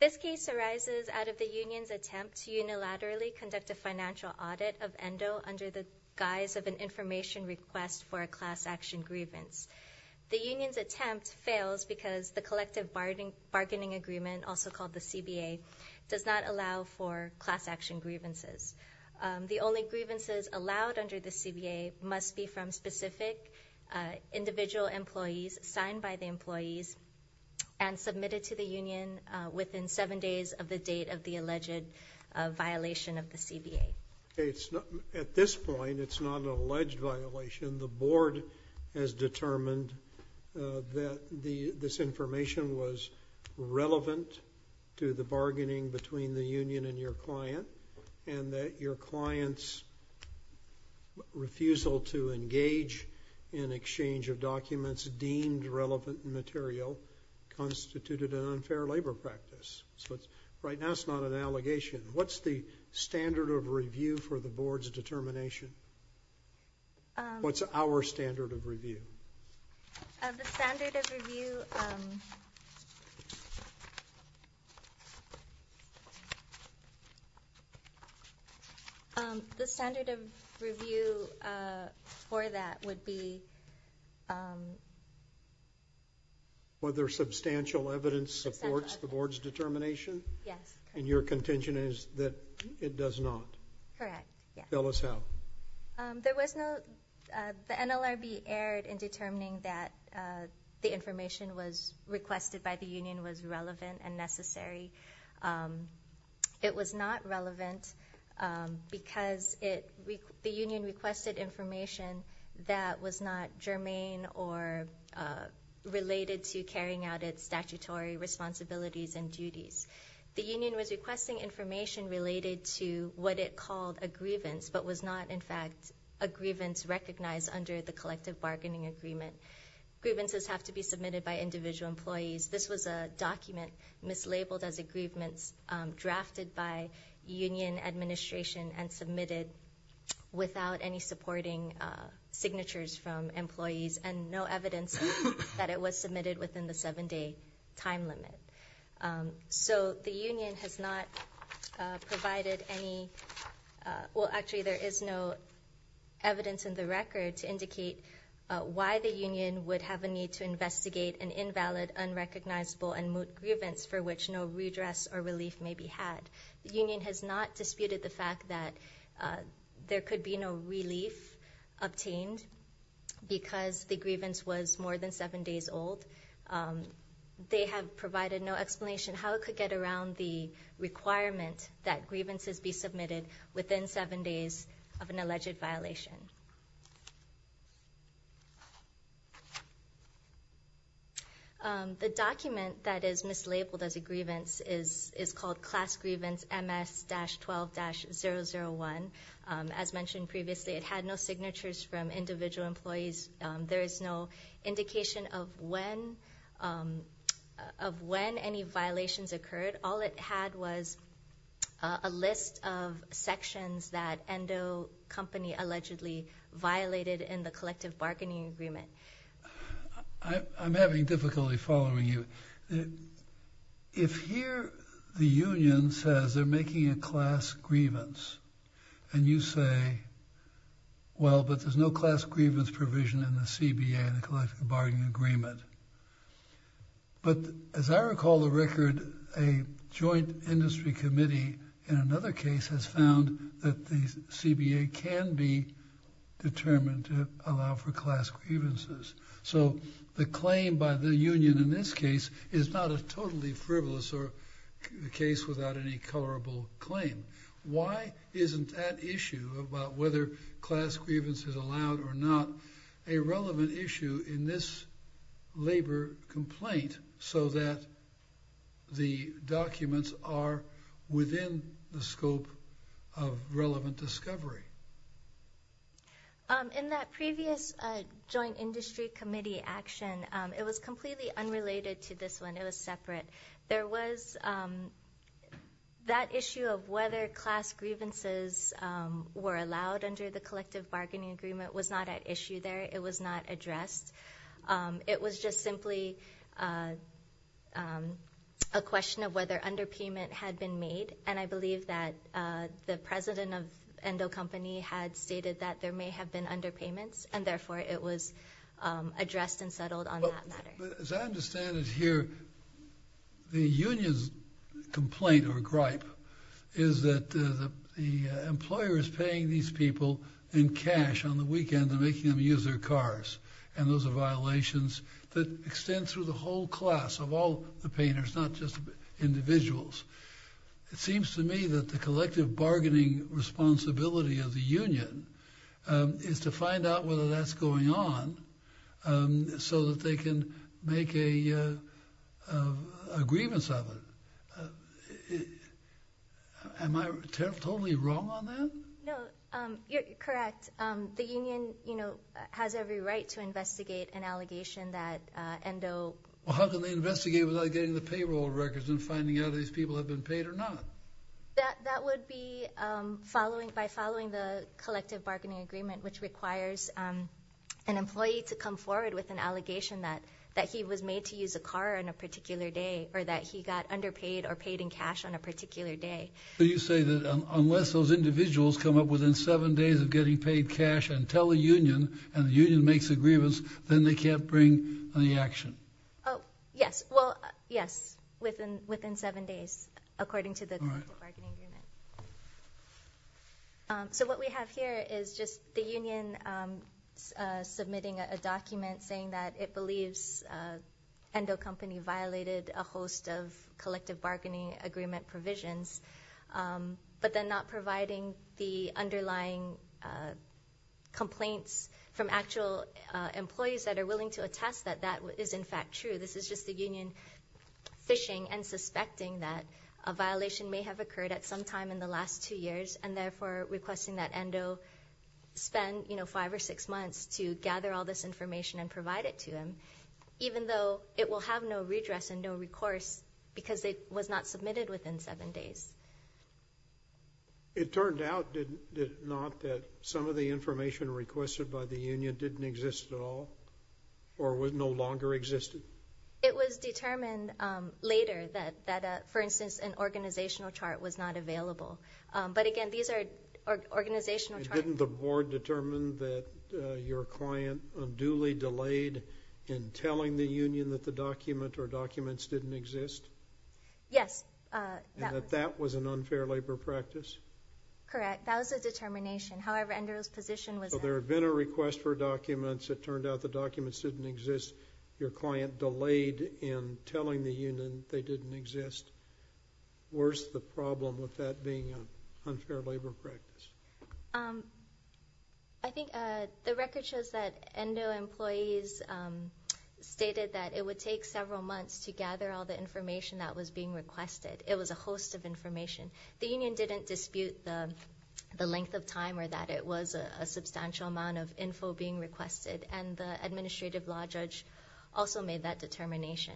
This case arises out of the union's attempt to unilaterally conduct a financial audit of Endo under the guise of an information request for a class action grievance. The union's attempt fails because the Collective Bargaining Agreement, also called the CBA, does not allow for class action grievances. The only grievances allowed under the CBA must be from specific individual employees signed by the employees and submitted to the union within seven days of the date of the alleged violation of the CBA. At this point, it's not an alleged violation. The board has determined that this information was relevant to the bargaining between the union and your client, and that your client's refusal to engage in exchange of documents deemed relevant material constituted an unfair labor practice. Right now, it's not an allegation. What's the standard of review for the board's determination? What's our standard of review? The standard of review for that would be whether substantial evidence supports the board's determination. Yes. And your contention is that it does not. Correct. Yeah. Tell us how. The NLRB erred in determining that the information requested by the union was relevant and necessary. It was not relevant because the union requested information that was not germane or related to carrying out its statutory responsibilities and duties. The union was requesting information related to what it called a grievance, but was not in fact a grievance recognized under the collective bargaining agreement. Grievances have to be submitted by individual employees. This was a document mislabeled as a grievance drafted by union administration and submitted without any supporting signatures from employees and no evidence that it was submitted within the seven-day time limit. So, the union has not provided any, well actually there is no evidence in the record to indicate why the union would have a need to investigate an invalid, unrecognizable, and moot grievance for which no redress or relief may be had. The union has not disputed the fact that there could be no relief obtained because the grievance was more than seven days old. They have provided no explanation how it could get around the requirement that grievances be submitted within seven days of an alleged violation. The document that is mislabeled as a grievance is called Class Grievance MS-12-001. As mentioned previously, it had no signatures from individual employees. There is no indication of when any violations occurred. All it had was a list of sections that Endo Company allegedly violated in the collective bargaining agreement. I'm having difficulty following you. If here the union says they're making a class grievance and you say, well, but there's no class grievance provision in the CBA, the collective bargaining agreement. But as I recall the record, a joint industry committee in another case has found that the CBA can be determined to allow for class grievances. So the claim by the union in this case is not a totally frivolous or a case without any colorable claim. Why isn't that issue about whether class grievance is allowed or not a relevant issue in this labor complaint so that the documents are within the scope of relevant discovery? In that previous joint industry committee action, it was completely unrelated to this one. It was separate. There was that issue of whether class grievances were allowed under the collective bargaining agreement was not at issue there. It was not addressed. It was just simply a question of whether underpayment had been made. And I believe that the president of Endo Company had stated that there may have been underpayments and therefore it was addressed and settled on that matter. But as I understand it here, the union's complaint or gripe is that the employer is paying these people in cash on the weekend and making them use their cars. And those are violations that extend through the whole class of all the painters, not just individuals. It seems to me that the collective bargaining responsibility of the union is to find out whether that's going on so that they can make a grievance of it. Am I totally wrong on that? No. You're correct. The union, you know, has every right to investigate an allegation that Endo... Well, how can they investigate without getting the payroll records and finding out if these people have been paid or not? That would be by following the collective bargaining agreement, which requires an employee to come forward with an allegation that he was made to use a car on a particular day or that he got underpaid or paid in cash on a particular day. So you say that unless those individuals come up within seven days of getting paid cash and tell the union and the union makes a grievance, then they can't bring the action? Oh, yes. Well, yes, within seven days, according to the collective bargaining agreement. So what we have here is just the union submitting a document saying that it believes Endo Company violated a host of collective bargaining agreement provisions, but then not providing the underlying complaints from actual employees that are willing to attest that that is in fact true. This is just the union fishing and suspecting that a violation may have occurred at some time in the last two years and therefore requesting that Endo spend, you know, five or six months to gather all this information and provide it to them, even though it will have no redress and no recourse because it was not submitted within seven days. It turned out, did it not, that some of the information requested by the union didn't exist at all or was no longer existed? It was determined later that, for instance, an organizational chart was not available. But again, these are organizational charts. And didn't the board determine that your client unduly delayed in telling the union that the document or documents didn't exist? Yes. And that that was an unfair labor practice? Correct. That was a determination. However, Endo's position was that... There had been a request for documents. It turned out the documents didn't exist. Your client delayed in telling the union they didn't exist. Where's the problem with that being an unfair labor practice? I think the record shows that Endo employees stated that it would take several months to gather all the information that was being requested. It was a host of information. The union didn't dispute the length of time or that it was a substantial amount of info being requested. And the administrative law judge also made that determination.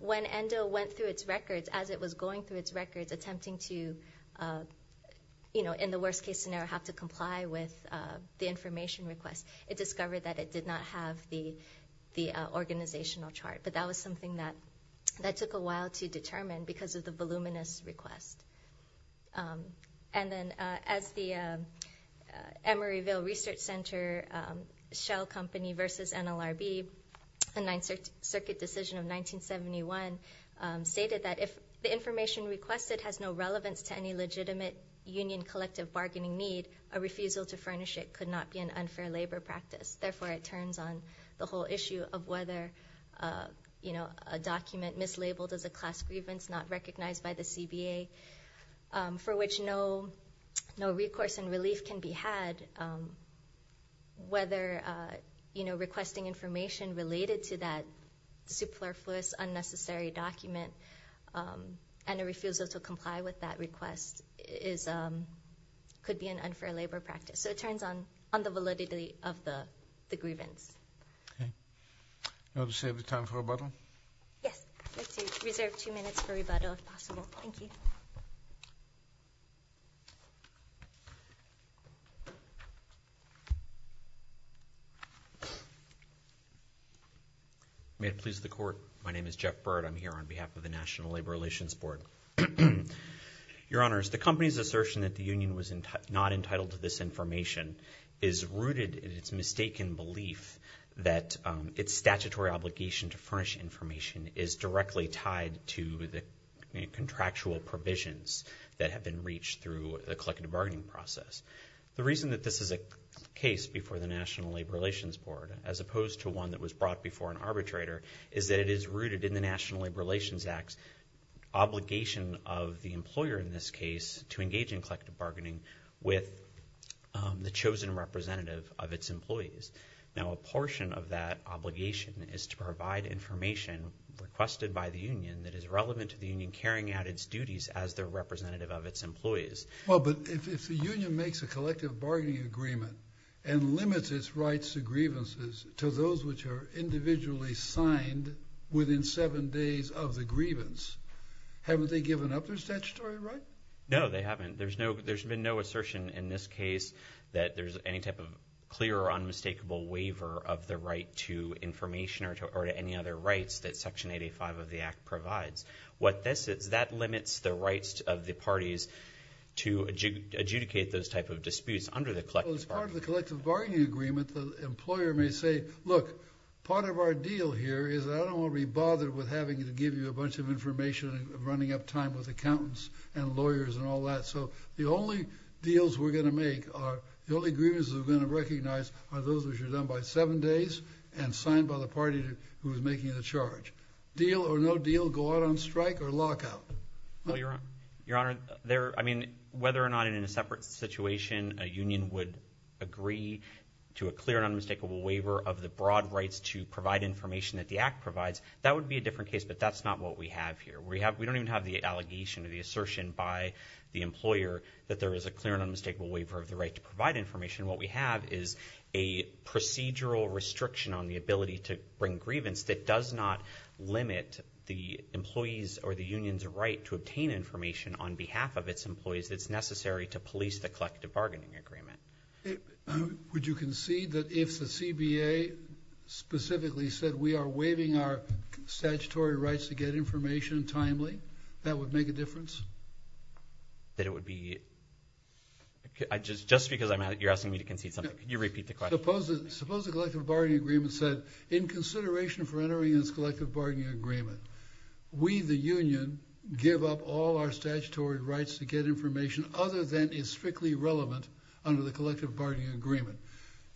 When Endo went through its records, as it was going through its records, attempting to, you know, in the worst case scenario, have to comply with the information request, it discovered that it did not have the organizational chart. But that was something that took a while to determine because of the voluminous request. And then as the Emeryville Research Center Shell Company versus NLRB, the Ninth Circuit decision of 1971, stated that if the information requested has no relevance to any legitimate union collective bargaining need, a refusal to furnish it could not be an unfair labor practice. Therefore, it turns on the whole issue of whether, you know, a document mislabeled as a class grievance not recognized by the CBA, for which no recourse and relief can be had, whether, you know, requesting information related to that superfluous, unnecessary document and a refusal to comply with that request could be an unfair labor practice. So it turns on the validity of the grievance. Okay. Now to save the time for rebuttal. Yes. I'd like to reserve two minutes for rebuttal, if possible. Thank you. May it please the Court. My name is Jeff Byrd. I'm here on behalf of the National Labor Relations Board. Your Honors, the company's assertion that the union was not entitled to this information is rooted in its mistaken belief that its statutory obligation to furnish information is directly tied to the contractual provisions that have been reached through the collective bargaining process. The reason that this is a case before the National Labor Relations Board, as opposed to one that was brought before an arbitrator, is that it is rooted in the National Labor Relations Act's obligation of the employer in this case to engage in collective bargaining with the chosen representative of its employees. Now a portion of that obligation is to provide information requested by the union that is relevant to the union carrying out its duties as the representative of its employees. Well, but if the union makes a collective bargaining agreement and limits its rights to grievances to those which are individually signed within seven days of the grievance, haven't they given up their statutory right? No, they haven't. There's been no assertion in this case that there's any type of clear or unmistakable waiver of the right to information or to any other rights that Section 85 of the Act provides. What this is, that limits the rights of the parties to adjudicate those type of disputes under the collective bargaining agreement. The employer may say, look, part of our deal here is that I don't want to be bothered with having to give you a bunch of information and running up time with accountants and lawyers and all that. So the only deals we're going to make are, the only grievances we're going to recognize are those which are done by seven days and signed by the party who is making the charge. Deal or no deal, go out on strike or lockout? Well, Your Honor, there, I mean, whether or not in a separate situation a union would agree to a clear and unmistakable waiver of the broad rights to provide information that the Act provides, that would be a different case, but that's not what we have here. We have, we don't even have the allegation or the assertion by the employer that there is a clear and unmistakable waiver of the right to provide information. What we have is a procedural restriction on the ability to bring grievance that does not limit the employee's or the union's right to obtain information on behalf of its employees that's necessary to police the collective bargaining agreement. Would you concede that if the CBA specifically said we are waiving our statutory rights to get information timely, that would make a difference? That it would be, just because you're asking me to concede something, could you repeat the question? Suppose the collective bargaining agreement said, in consideration for entering this collective bargaining agreement, we, the union, give up all our statutory rights to get information other than is strictly relevant under the collective bargaining agreement,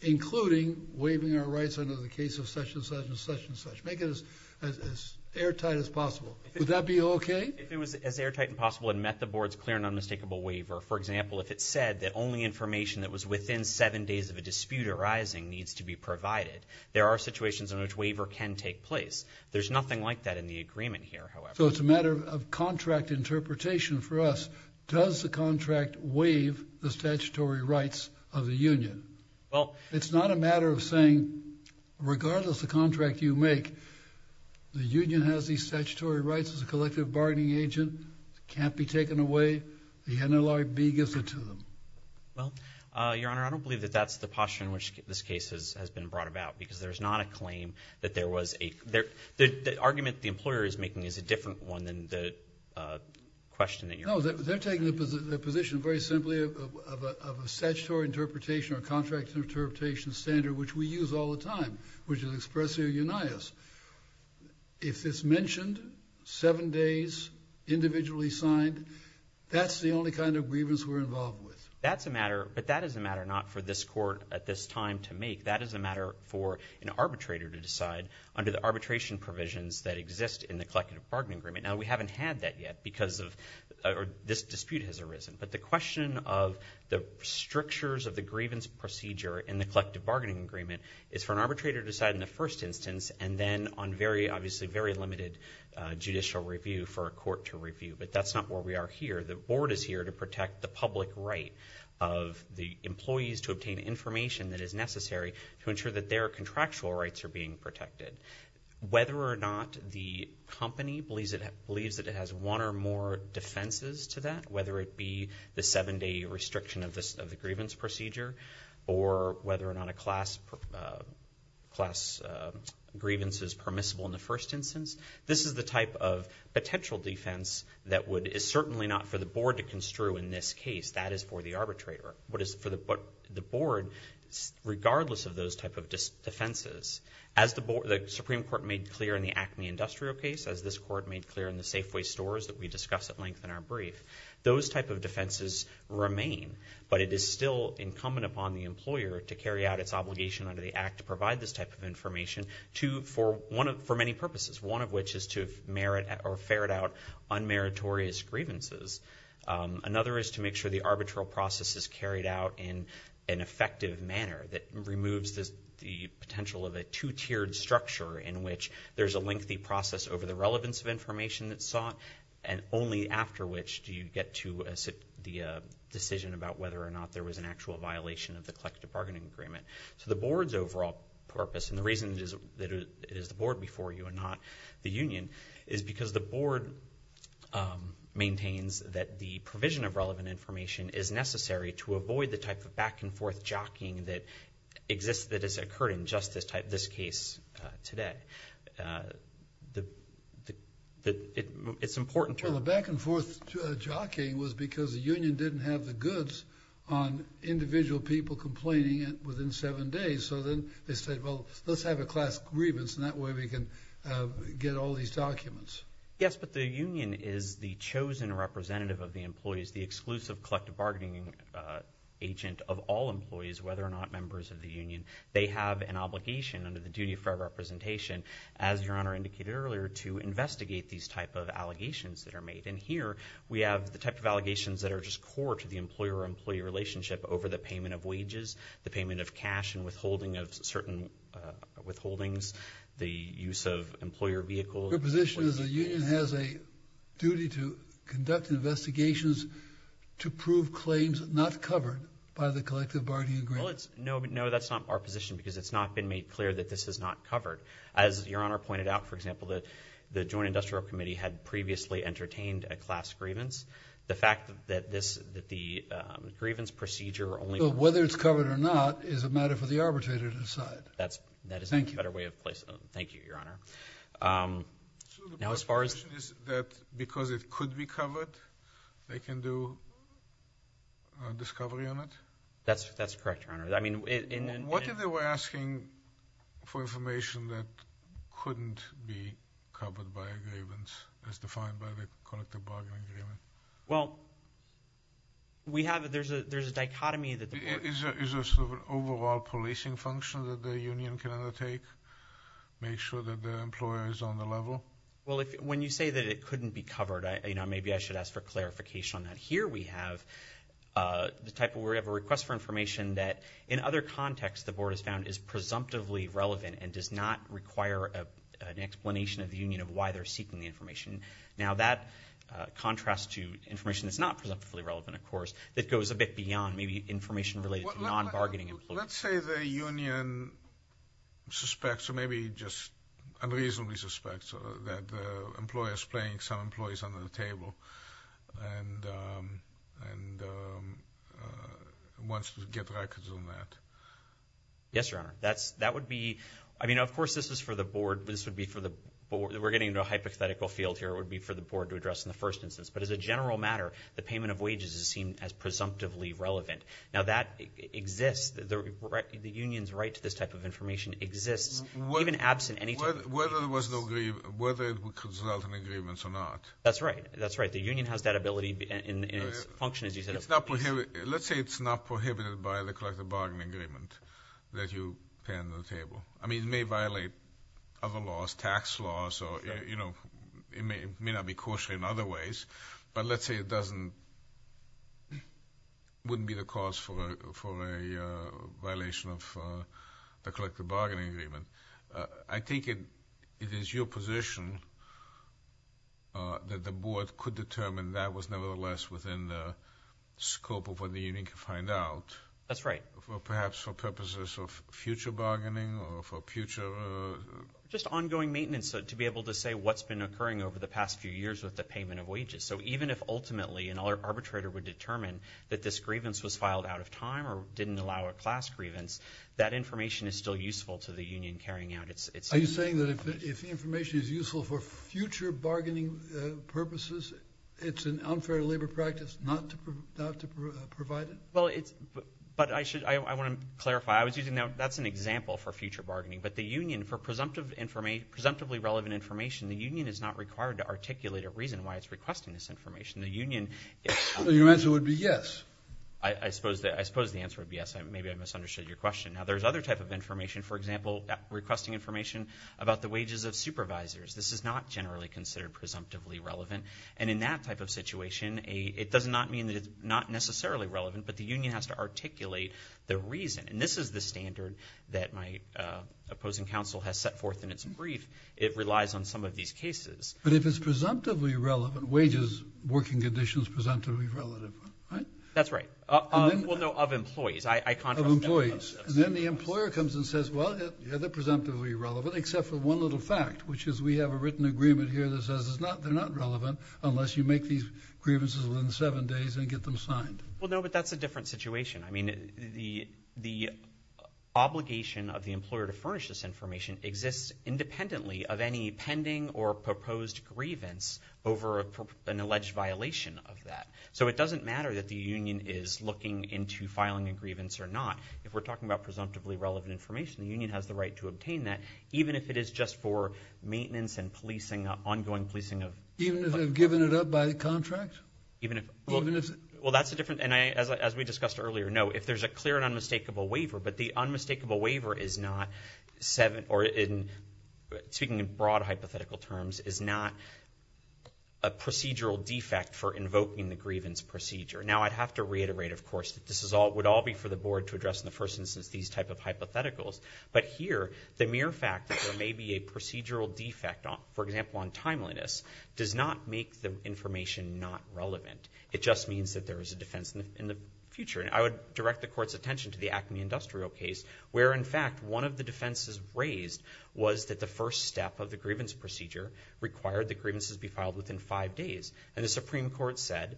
including waiving our rights under the case of such and such and such and such, make it as airtight as possible. Would that be okay? If it was as airtight as possible and met the board's clear and unmistakable waiver, for example, if it said that only information that was within seven days of a dispute arising needs to be provided, there are situations in which waiver can take place. There's nothing like that in the agreement here, however. So it's a matter of contract interpretation for us. Does the contract waive the statutory rights of the union? It's not a matter of saying, regardless of the contract you make, the union has these statutory rights as a collective bargaining agent, can't be taken away, the NLRB gives it to them. Well, Your Honor, I don't believe that that's the posture in which this case has been brought about because there's not a claim that there was a – the argument the employer is making is a different one than the question that you're asking. No. They're taking the position very simply of a statutory interpretation or contract interpretation standard which we use all the time, which is expressly a unias. If it's mentioned, seven days, individually signed, that's the only kind of grievance we're involved with. That's a matter – but that is a matter not for this court at this time to make. That is a matter for an arbitrator to decide under the arbitration provisions that exist in the collective bargaining agreement. Now, we haven't had that yet because of – or this dispute has arisen. But the question of the strictures of the grievance procedure in the collective bargaining agreement is for an arbitrator to decide in the first instance and then on very – obviously very limited judicial review for a court to review. But that's not where we are here. The board is here to protect the public right of the employees to obtain information that is necessary to ensure that their contractual rights are being protected. Whether or not the company believes that it has one or more defenses to that, whether it be the seven-day restriction of the grievance procedure or whether or not a class grievance is permissible in the first instance, this is the type of potential defense that would – is certainly not for the board to construe in this case. That is for the arbitrator. What is – for the board, regardless of those type of defenses, as the board – the Supreme Court made clear in the Acme Industrial case, as this court made clear in the Safeway stores that we discuss at length in our brief, those type of defenses remain. But it is still incumbent upon the employer to carry out its obligation under the Act to provide this type of information to – for one of – for many purposes, one of which is to merit or ferret out unmeritorious grievances. Another is to make sure the arbitral process is carried out in an effective manner that removes the potential of a two-tiered structure in which there's a lengthy process over the relevance of information that's sought and only after which do you get to the decision about whether or not there was an actual violation of the collective bargaining agreement. So the board's overall purpose, and the reason that it is the board before you and not the union, is because the board maintains that the provision of relevant information is necessary to avoid the type of back-and-forth jockeying that exists – that has occurred in just this type – this case today. The – it's important to – Well, the back-and-forth jockeying was because the union didn't have the goods on individual people complaining within seven days, so then they said, well, let's have a class grievance and that way we can get all these documents. Yes, but the union is the chosen representative of the employees, the exclusive collective bargaining agent of all employees, whether or not members of the union. They have an obligation under the duty of fair representation, as Your Honor indicated earlier, to investigate these type of allegations that are made. And here we have the type of allegations that are just core to the employer-employee relationship over the payment of wages, the payment of cash, and withholding of certain withholdings, the use of employer vehicles – Your position is the union has a duty to conduct investigations to prove claims not covered by the collective bargaining agreement. Well, it's – no, that's not our position because it's not been made clear that this is not covered. As Your Honor pointed out, for example, the Joint Industrial Committee had previously entertained a class grievance. The fact that this – that the grievance procedure only – Well, whether it's covered or not is a matter for the arbitrator to decide. That's – that is a better way of placing it. Thank you, Your Honor. Now, as far as – So the question is that because it could be covered, they can do a discovery on it? That's correct, Your Honor. I mean, in – What if they were asking for information that couldn't be covered by a grievance as defined by the collective bargaining agreement? Well, we have – there's a dichotomy that the board – Is there sort of an overall policing function that the union can undertake, make sure that the employer is on the level? Well, if – when you say that it couldn't be covered, you know, maybe I should ask for clarification on that. Here we have the type of – we have a request for information that in other contexts the board has found is presumptively relevant and does not require an explanation of the union of why they're seeking the information. Now, that contrasts to information that's not presumptively relevant, of course, that goes a bit beyond maybe information related to non-bargaining employees. Let's say the union suspects, or maybe just unreasonably suspects, that the employer is playing some employees under the table and wants to get records on that. Yes, Your Honor. That's – that would be – I mean, of course, this is for the board, but this would be for the – we're getting into a hypothetical field here, it would be for the board to address in the first instance. But as a general matter, the payment of wages is seen as presumptively relevant. Now, that exists – the union's right to this type of information exists, even absent any type of – Whether there was no – whether it would result in agreements or not. That's right. That's right. The union has that ability in its function, as you said. It's not – let's say it's not prohibited by the collective bargaining agreement that you pay under the table. I mean, it may violate other laws, tax laws, or, you know, it may not be coarsely in other ways. But let's say it doesn't – wouldn't be the cause for a violation of the collective bargaining agreement. I think it is your position that the board could determine that was nevertheless within the scope of what the union could find out. That's right. Well, perhaps for purposes of future bargaining or for future – Just ongoing maintenance to be able to say what's been occurring over the past few years with the payment of wages. So even if ultimately an arbitrator would determine that this grievance was filed out of time or didn't allow a class grievance, that information is still useful to the union carrying out its – Are you saying that if the information is useful for future bargaining purposes, it's an unfair labor practice not to provide it? Well, it's – but I should – I want to clarify. I was using – now, that's an example for future bargaining. But the union, for presumptively relevant information, the union is not required to articulate a reason why it's requesting this information. The union – So your answer would be yes? I suppose the answer would be yes. Maybe I misunderstood your question. Now, there's other type of information. For example, requesting information about the wages of supervisors. This is not generally considered presumptively relevant. And in that type of situation, it does not mean that it's not necessarily relevant, but the union has to articulate the reason. And this is the standard that my opposing counsel has set forth in its brief. It relies on some of these cases. But if it's presumptively relevant, wages, working conditions, presumptively relevant, right? That's right. Well, no, of employees. I – Of employees. And then the employer comes and says, well, they're presumptively relevant except for one little fact, which is we have a written agreement here that says it's not – they're not relevant unless you make these grievances within seven days and get them signed. Well, no, but that's a different situation. I mean, the obligation of the employer to furnish this information exists independently of any pending or proposed grievance over an alleged violation of that. So it doesn't matter that the union is looking into filing a grievance or not. If we're talking about presumptively relevant information, the union has the right to obtain that, even if it is just for maintenance and policing, ongoing policing of – Even if they've given it up by the contract? Even if – Well, that's a different – and as we discussed earlier, no, if there's a clear and unmistakable waiver, but the unmistakable waiver is not – or in – speaking in broad hypothetical terms, is not a procedural defect for invoking the grievance procedure. Now, I'd have to reiterate, of course, that this is all – would all be for the board to address in the first instance these type of hypotheticals. But here, the mere fact that there may be a procedural defect, for example, on timeliness, does not make the information not relevant. It just means that there is a defense in the future. And I would direct the Court's attention to the Acme Industrial case, where, in fact, one of the defenses raised was that the first step of the grievance procedure required the grievances be filed within five days. And the Supreme Court said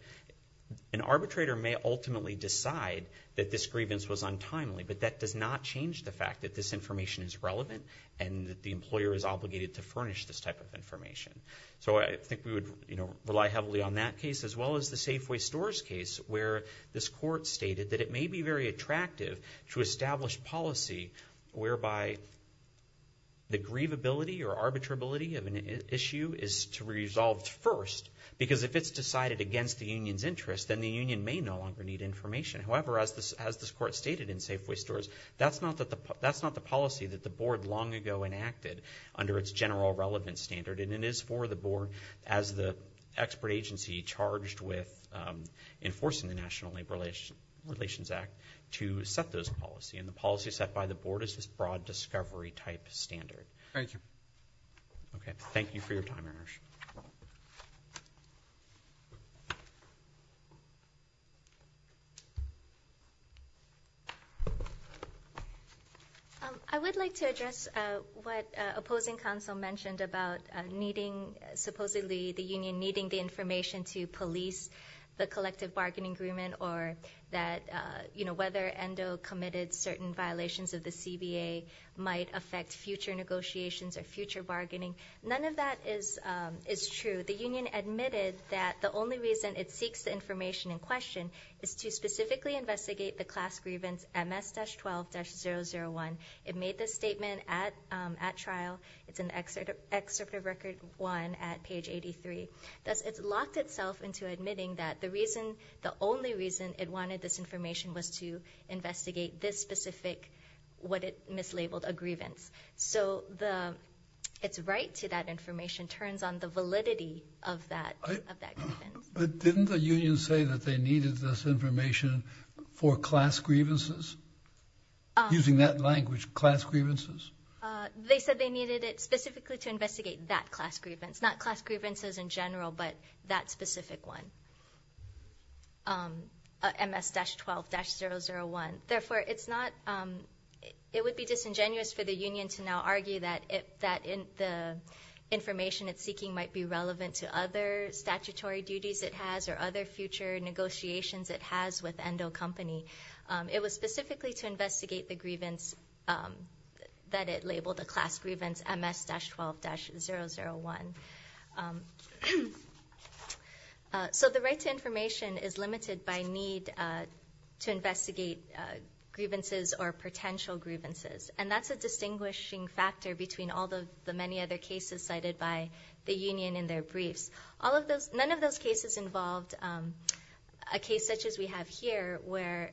an arbitrator may ultimately decide that this grievance was untimely, but that does not change the fact that this information is relevant and that the employer is obligated to furnish this type of information. So I think we would, you know, rely heavily on that case, as well as the Safeway Stores case, where this Court stated that it may be very attractive to establish policy whereby the grievability or arbitrability of an issue is to be resolved first, because if it's decided against the union's interest, then the union may no longer need information. However, as this Court stated in Safeway Stores, that's not the policy that the board long ago enacted under its general relevance standard, and it is for the board, as the expert agency charged with enforcing the National Labor Relations Act, to set those policy. And the policy set by the board is this broad discovery type standard. Thank you. Thank you for your time, Ersh. Thank you. I would like to address what opposing counsel mentioned about needing, supposedly the union needing the information to police the collective bargaining agreement, or that, you know, whether ENDO committed certain violations of the CBA might affect future negotiations or future bargaining. None of that is true. The union admitted that the only reason it seeks the information in question is to specifically investigate the class grievance MS-12-001. It made this statement at trial. It's in Excerpt of Record 1 at page 83. It's locked itself into admitting that the reason, the only reason it wanted this information was to investigate this specific, what it mislabeled, a grievance. So the, it's right to that information turns on the validity of that, of that grievance. But didn't the union say that they needed this information for class grievances? Using that language, class grievances? They said they needed it specifically to investigate that class grievance, not class grievances in general, but that specific one, MS-12-001. Therefore it's not, it would be disingenuous for the union to now argue that the information it's seeking might be relevant to other statutory duties it has or other future negotiations it has with ENDO company. It was specifically to investigate the grievance that it labeled a class grievance, MS-12-001. So the right to information is limited by need to investigate grievances or potential grievances. And that's a distinguishing factor between all the many other cases cited by the union in their briefs. All of those, none of those cases involved a case such as we have here where,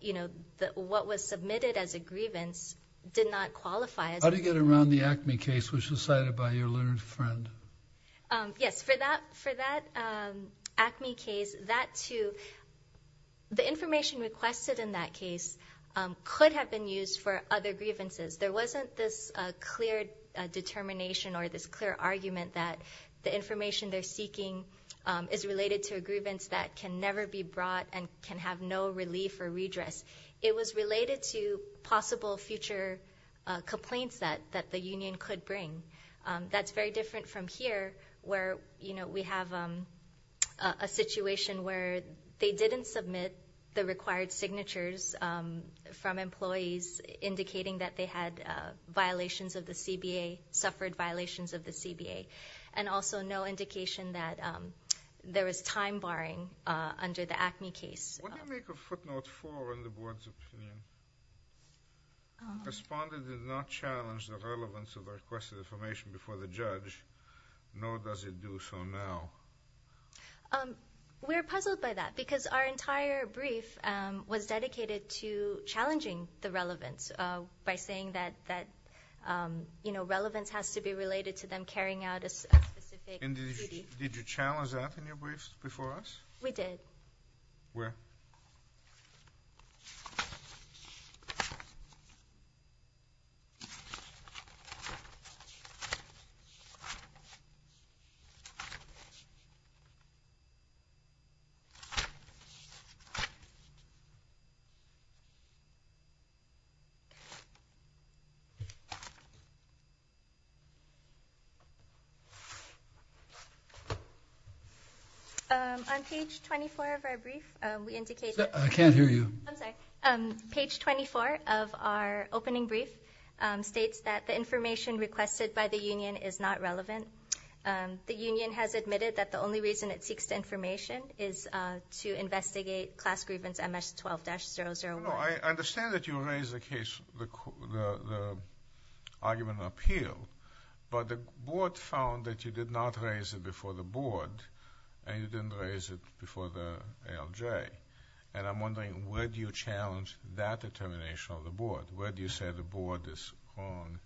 you know, what was submitted as a grievance did not qualify as a grievance. How do you get around the ACME case which was cited by your learned friend? Yes, for that ACME case, that too, the information requested in that case could have been used for other grievances. There wasn't this clear determination or this clear argument that the information they're seeking is related to a grievance that can never be brought and can have no relief or redress. It was related to possible future complaints that the union could bring. That's very different from here where we have a situation where they didn't submit the required signatures from employees indicating that they had violations of the CBA, suffered violations of the CBA. And also no indication that there was time barring under the ACME case. What do you make a footnote for in the board's opinion? Respondent did not challenge the relevance of the requested information before the judge, nor does it do so now. We're puzzled by that because our entire brief was dedicated to challenging the relevance by saying that, you know, relevance has to be related to them carrying out a specific duty. Did you challenge that in your brief before us? We did. Where? Where? On page 24 of our brief, we indicated that there were no violations of the CBA. I can't hear you. I'm sorry. Page 24 of our opening brief states that the information requested by the union is not relevant. The union has admitted that the only reason it seeks the information is to investigate class grievance MS-12-001. I understand that you raised the argument of appeal, but the board found that you did not raise it before the board, and you didn't raise it before the ALJ. And I'm wondering, where do you challenge that determination of the board? Where do you say the board is wrong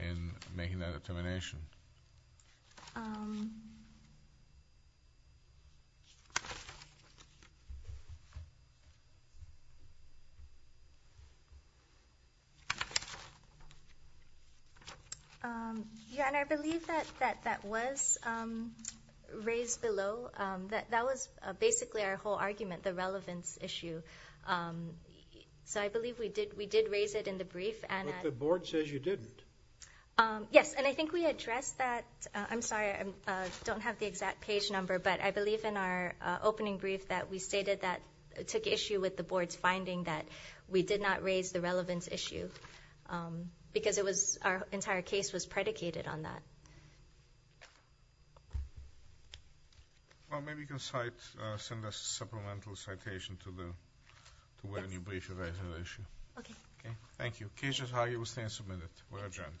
in making that determination? Your Honor, I believe that that was raised below. That was basically our whole argument, the relevance issue. So I believe we did raise it in the brief. But the board says you didn't. Yes, and I think we addressed that. I'm sorry, I don't have the exact page number, but I believe in our opening brief that we stated that it took issue with the board's finding that we did not raise the relevance issue, because our entire case was predicated on that. Well, maybe you can send us a supplemental citation to where the brief was raised on the issue. Okay. Thank you. The case is highly sustained and submitted. We are adjourned.